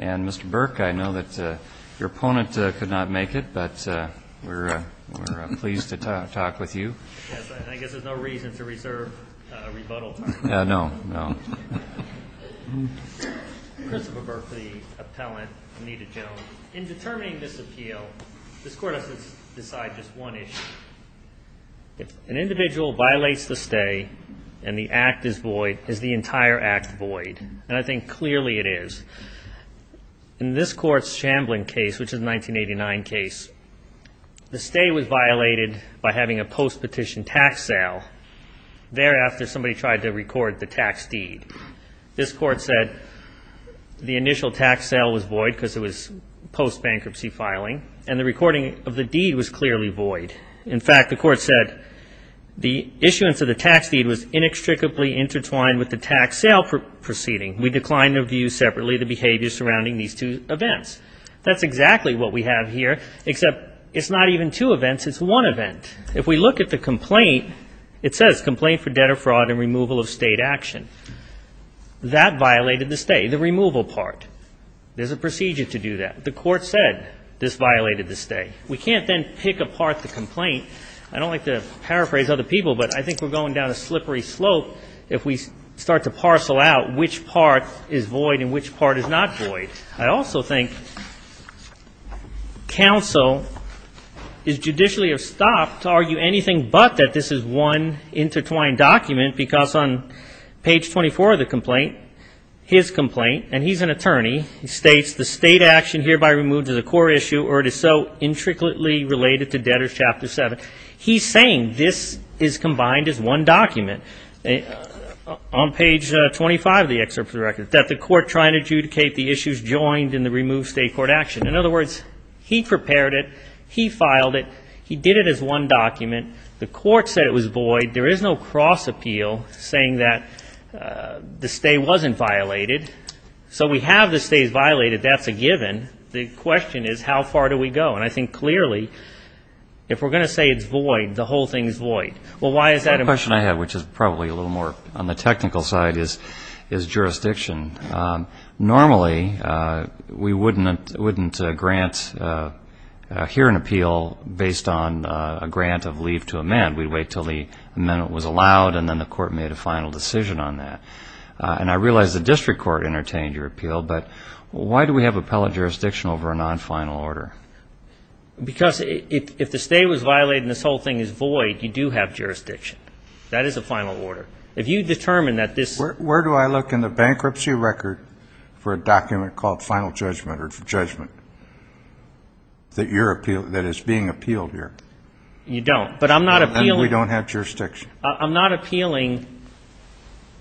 Mr. Burke, I know that your opponent could not make it, but we're pleased to talk with you. Yes, I guess there's no reason to reserve a rebuttal time. No, no. Christopher Burke, the appellant, Anita Jones. In determining this appeal, this Court has to decide just one issue. If an individual violates the stay and the act is void, is the entire act void? And I think clearly it is. In this Court's Chamblin case, which is a 1989 case, the stay was violated by having a post-petition tax sale thereafter somebody tried to record the tax deed. This Court said the initial tax sale was void because it was post-bankruptcy filing, and the recording of the deed was clearly void. In fact, the Court said the issuance of the tax deed was inextricably intertwined with the tax sale proceeding. We decline to review separately the behavior surrounding these two events. That's exactly what we have here, except it's not even two events, it's one event. If we look at the complaint, it says complaint for debt or fraud and removal of state action. That violated the stay, the removal part. There's a procedure to do that. The Court said this violated the stay. We can't then pick apart the complaint. I don't like to paraphrase other people, but I think we're going down a slippery slope if we start to parcel out which part is void and which part is not void. I also think counsel is judicially estopped to argue anything but that this is one intertwined document, because on page 24 of the complaint, his complaint, and he's an attorney, he states the state action hereby removed is a core issue or it is so intricately related to debtors chapter 7. He's saying this is combined as one document. On page 25 of the excerpt of the record, that the Court tried to adjudicate the issues joined in the removed state court action. In other words, he prepared it. He filed it. He did it as one document. The Court said it was void. There is no cross appeal saying that the stay wasn't violated. So we have the stays violated. That's a given. The question is how far do we go? The question I have, which is probably a little more on the technical side, is jurisdiction. Normally, we wouldn't grant here an appeal based on a grant of leave to amend. We'd wait until the amendment was allowed, and then the Court made a final decision on that. And I realize the district court entertained your appeal, but why do we have appellate jurisdiction over a non-final order? Because if the stay was violated and this whole thing is void, you do have jurisdiction. That is a final order. If you determine that this ---- Where do I look in the bankruptcy record for a document called final judgment or judgment that is being appealed here? You don't. But I'm not appealing ---- And we don't have jurisdiction. I'm not appealing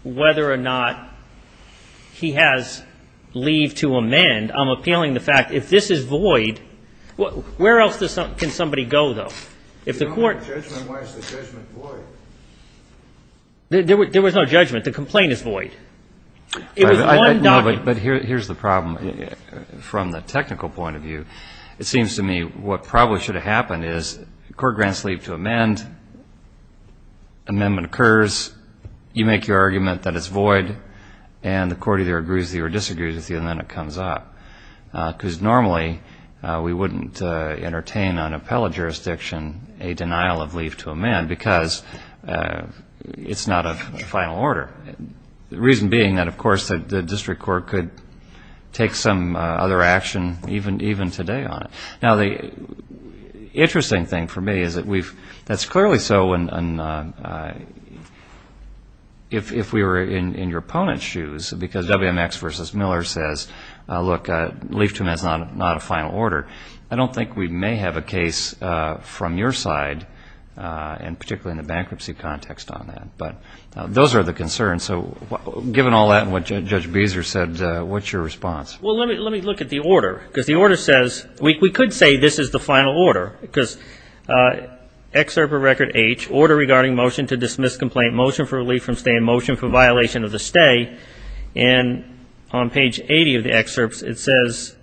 whether or not he has leave to amend. And I'm appealing the fact if this is void, where else can somebody go, though? If the Court ---- If you don't have judgment, why is the judgment void? There was no judgment. The complaint is void. It was one document. No, but here's the problem. From the technical point of view, it seems to me what probably should have happened is the Court grants leave to amend. Amendment occurs. You make your argument that it's void, and the Court either agrees with you or disagrees with you, and then it comes up. Because normally we wouldn't entertain on appellate jurisdiction a denial of leave to amend because it's not a final order. The reason being that, of course, the district court could take some other action even today on it. Now, the interesting thing for me is that we've ---- that's clearly so if we were in your opponent's shoes, because WMX v. Miller says, look, leave to amend is not a final order. I don't think we may have a case from your side, and particularly in the bankruptcy context on that. But those are the concerns. So given all that and what Judge Beezer said, what's your response? Well, let me look at the order, because the order says we could say this is the final order, because Excerpt of Record H, Order Regarding Motion to Dismiss Complaint, Motion for Relief from Stay in Motion for Violation of the Stay, and on page 80 of the excerpts it says,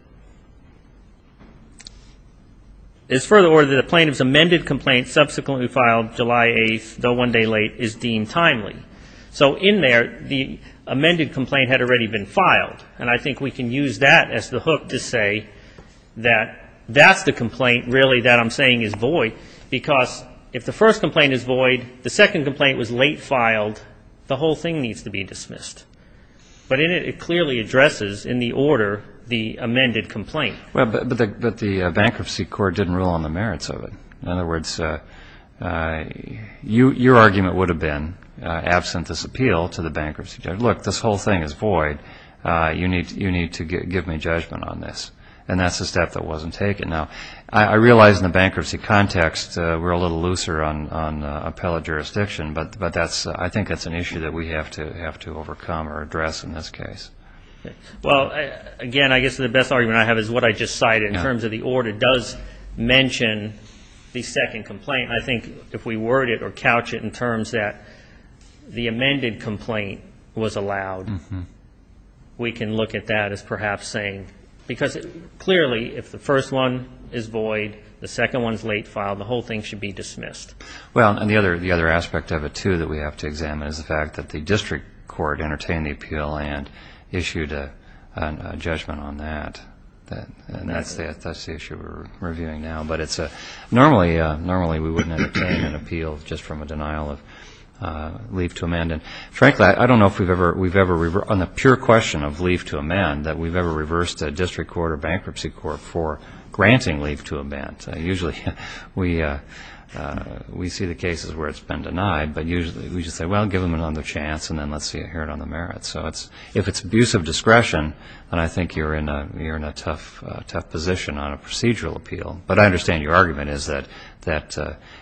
it's further ordered that the plaintiff's amended complaint subsequently filed July 8th, though one day late, is deemed timely. So in there, the amended complaint had already been filed. And I think we can use that as the hook to say that that's the complaint really that I'm saying is void, because if the first complaint is void, the second complaint was late filed, the whole thing needs to be dismissed. But it clearly addresses in the order the amended complaint. But the bankruptcy court didn't rule on the merits of it. In other words, your argument would have been, absent this appeal to the bankruptcy judge, look, this whole thing is void. You need to give me judgment on this. And that's the step that wasn't taken. Now, I realize in the bankruptcy context we're a little looser on appellate jurisdiction, but I think that's an issue that we have to overcome or address in this case. Well, again, I guess the best argument I have is what I just cited. In terms of the order, it does mention the second complaint. I think if we word it or couch it in terms that the amended complaint was allowed, we can look at that as perhaps saying, because clearly if the first one is void, the second one is late filed, the whole thing should be dismissed. Well, and the other aspect of it, too, that we have to examine is the fact that the district court entertained the appeal and issued a judgment on that. And that's the issue we're reviewing now. But normally we wouldn't entertain an appeal just from a denial of leave to amend. And frankly, I don't know if we've ever, on the pure question of leave to amend, that we've ever reversed a district court or bankruptcy court for granting leave to amend. Usually we see the cases where it's been denied, but usually we just say, well, give them another chance, and then let's hear it on the merits. So if it's abuse of discretion, then I think you're in a tough position on a procedural appeal. But I understand your argument is that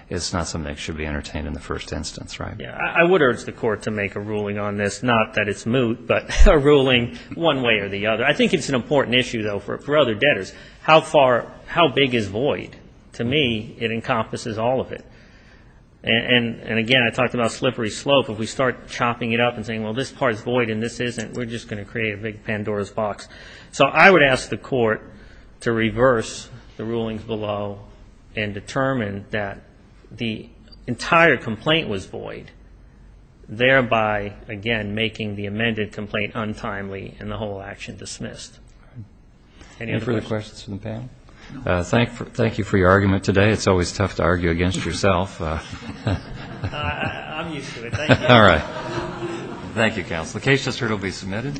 it's not something that should be entertained in the first instance, right? I would urge the court to make a ruling on this, not that it's moot, but a ruling one way or the other. I think it's an important issue, though, for other debtors. How big is void? To me, it encompasses all of it. And again, I talked about slippery slope. If we start chopping it up and saying, well, this part's void and this isn't, we're just going to create a big Pandora's box. So I would ask the court to reverse the rulings below and determine that the entire complaint was void, thereby, again, making the amended complaint untimely and the whole action dismissed. Any other questions from the panel? Thank you for your argument today. It's always tough to argue against yourself. I'm used to it. Thank you. All right. Thank you, counsel. The case just heard will be submitted.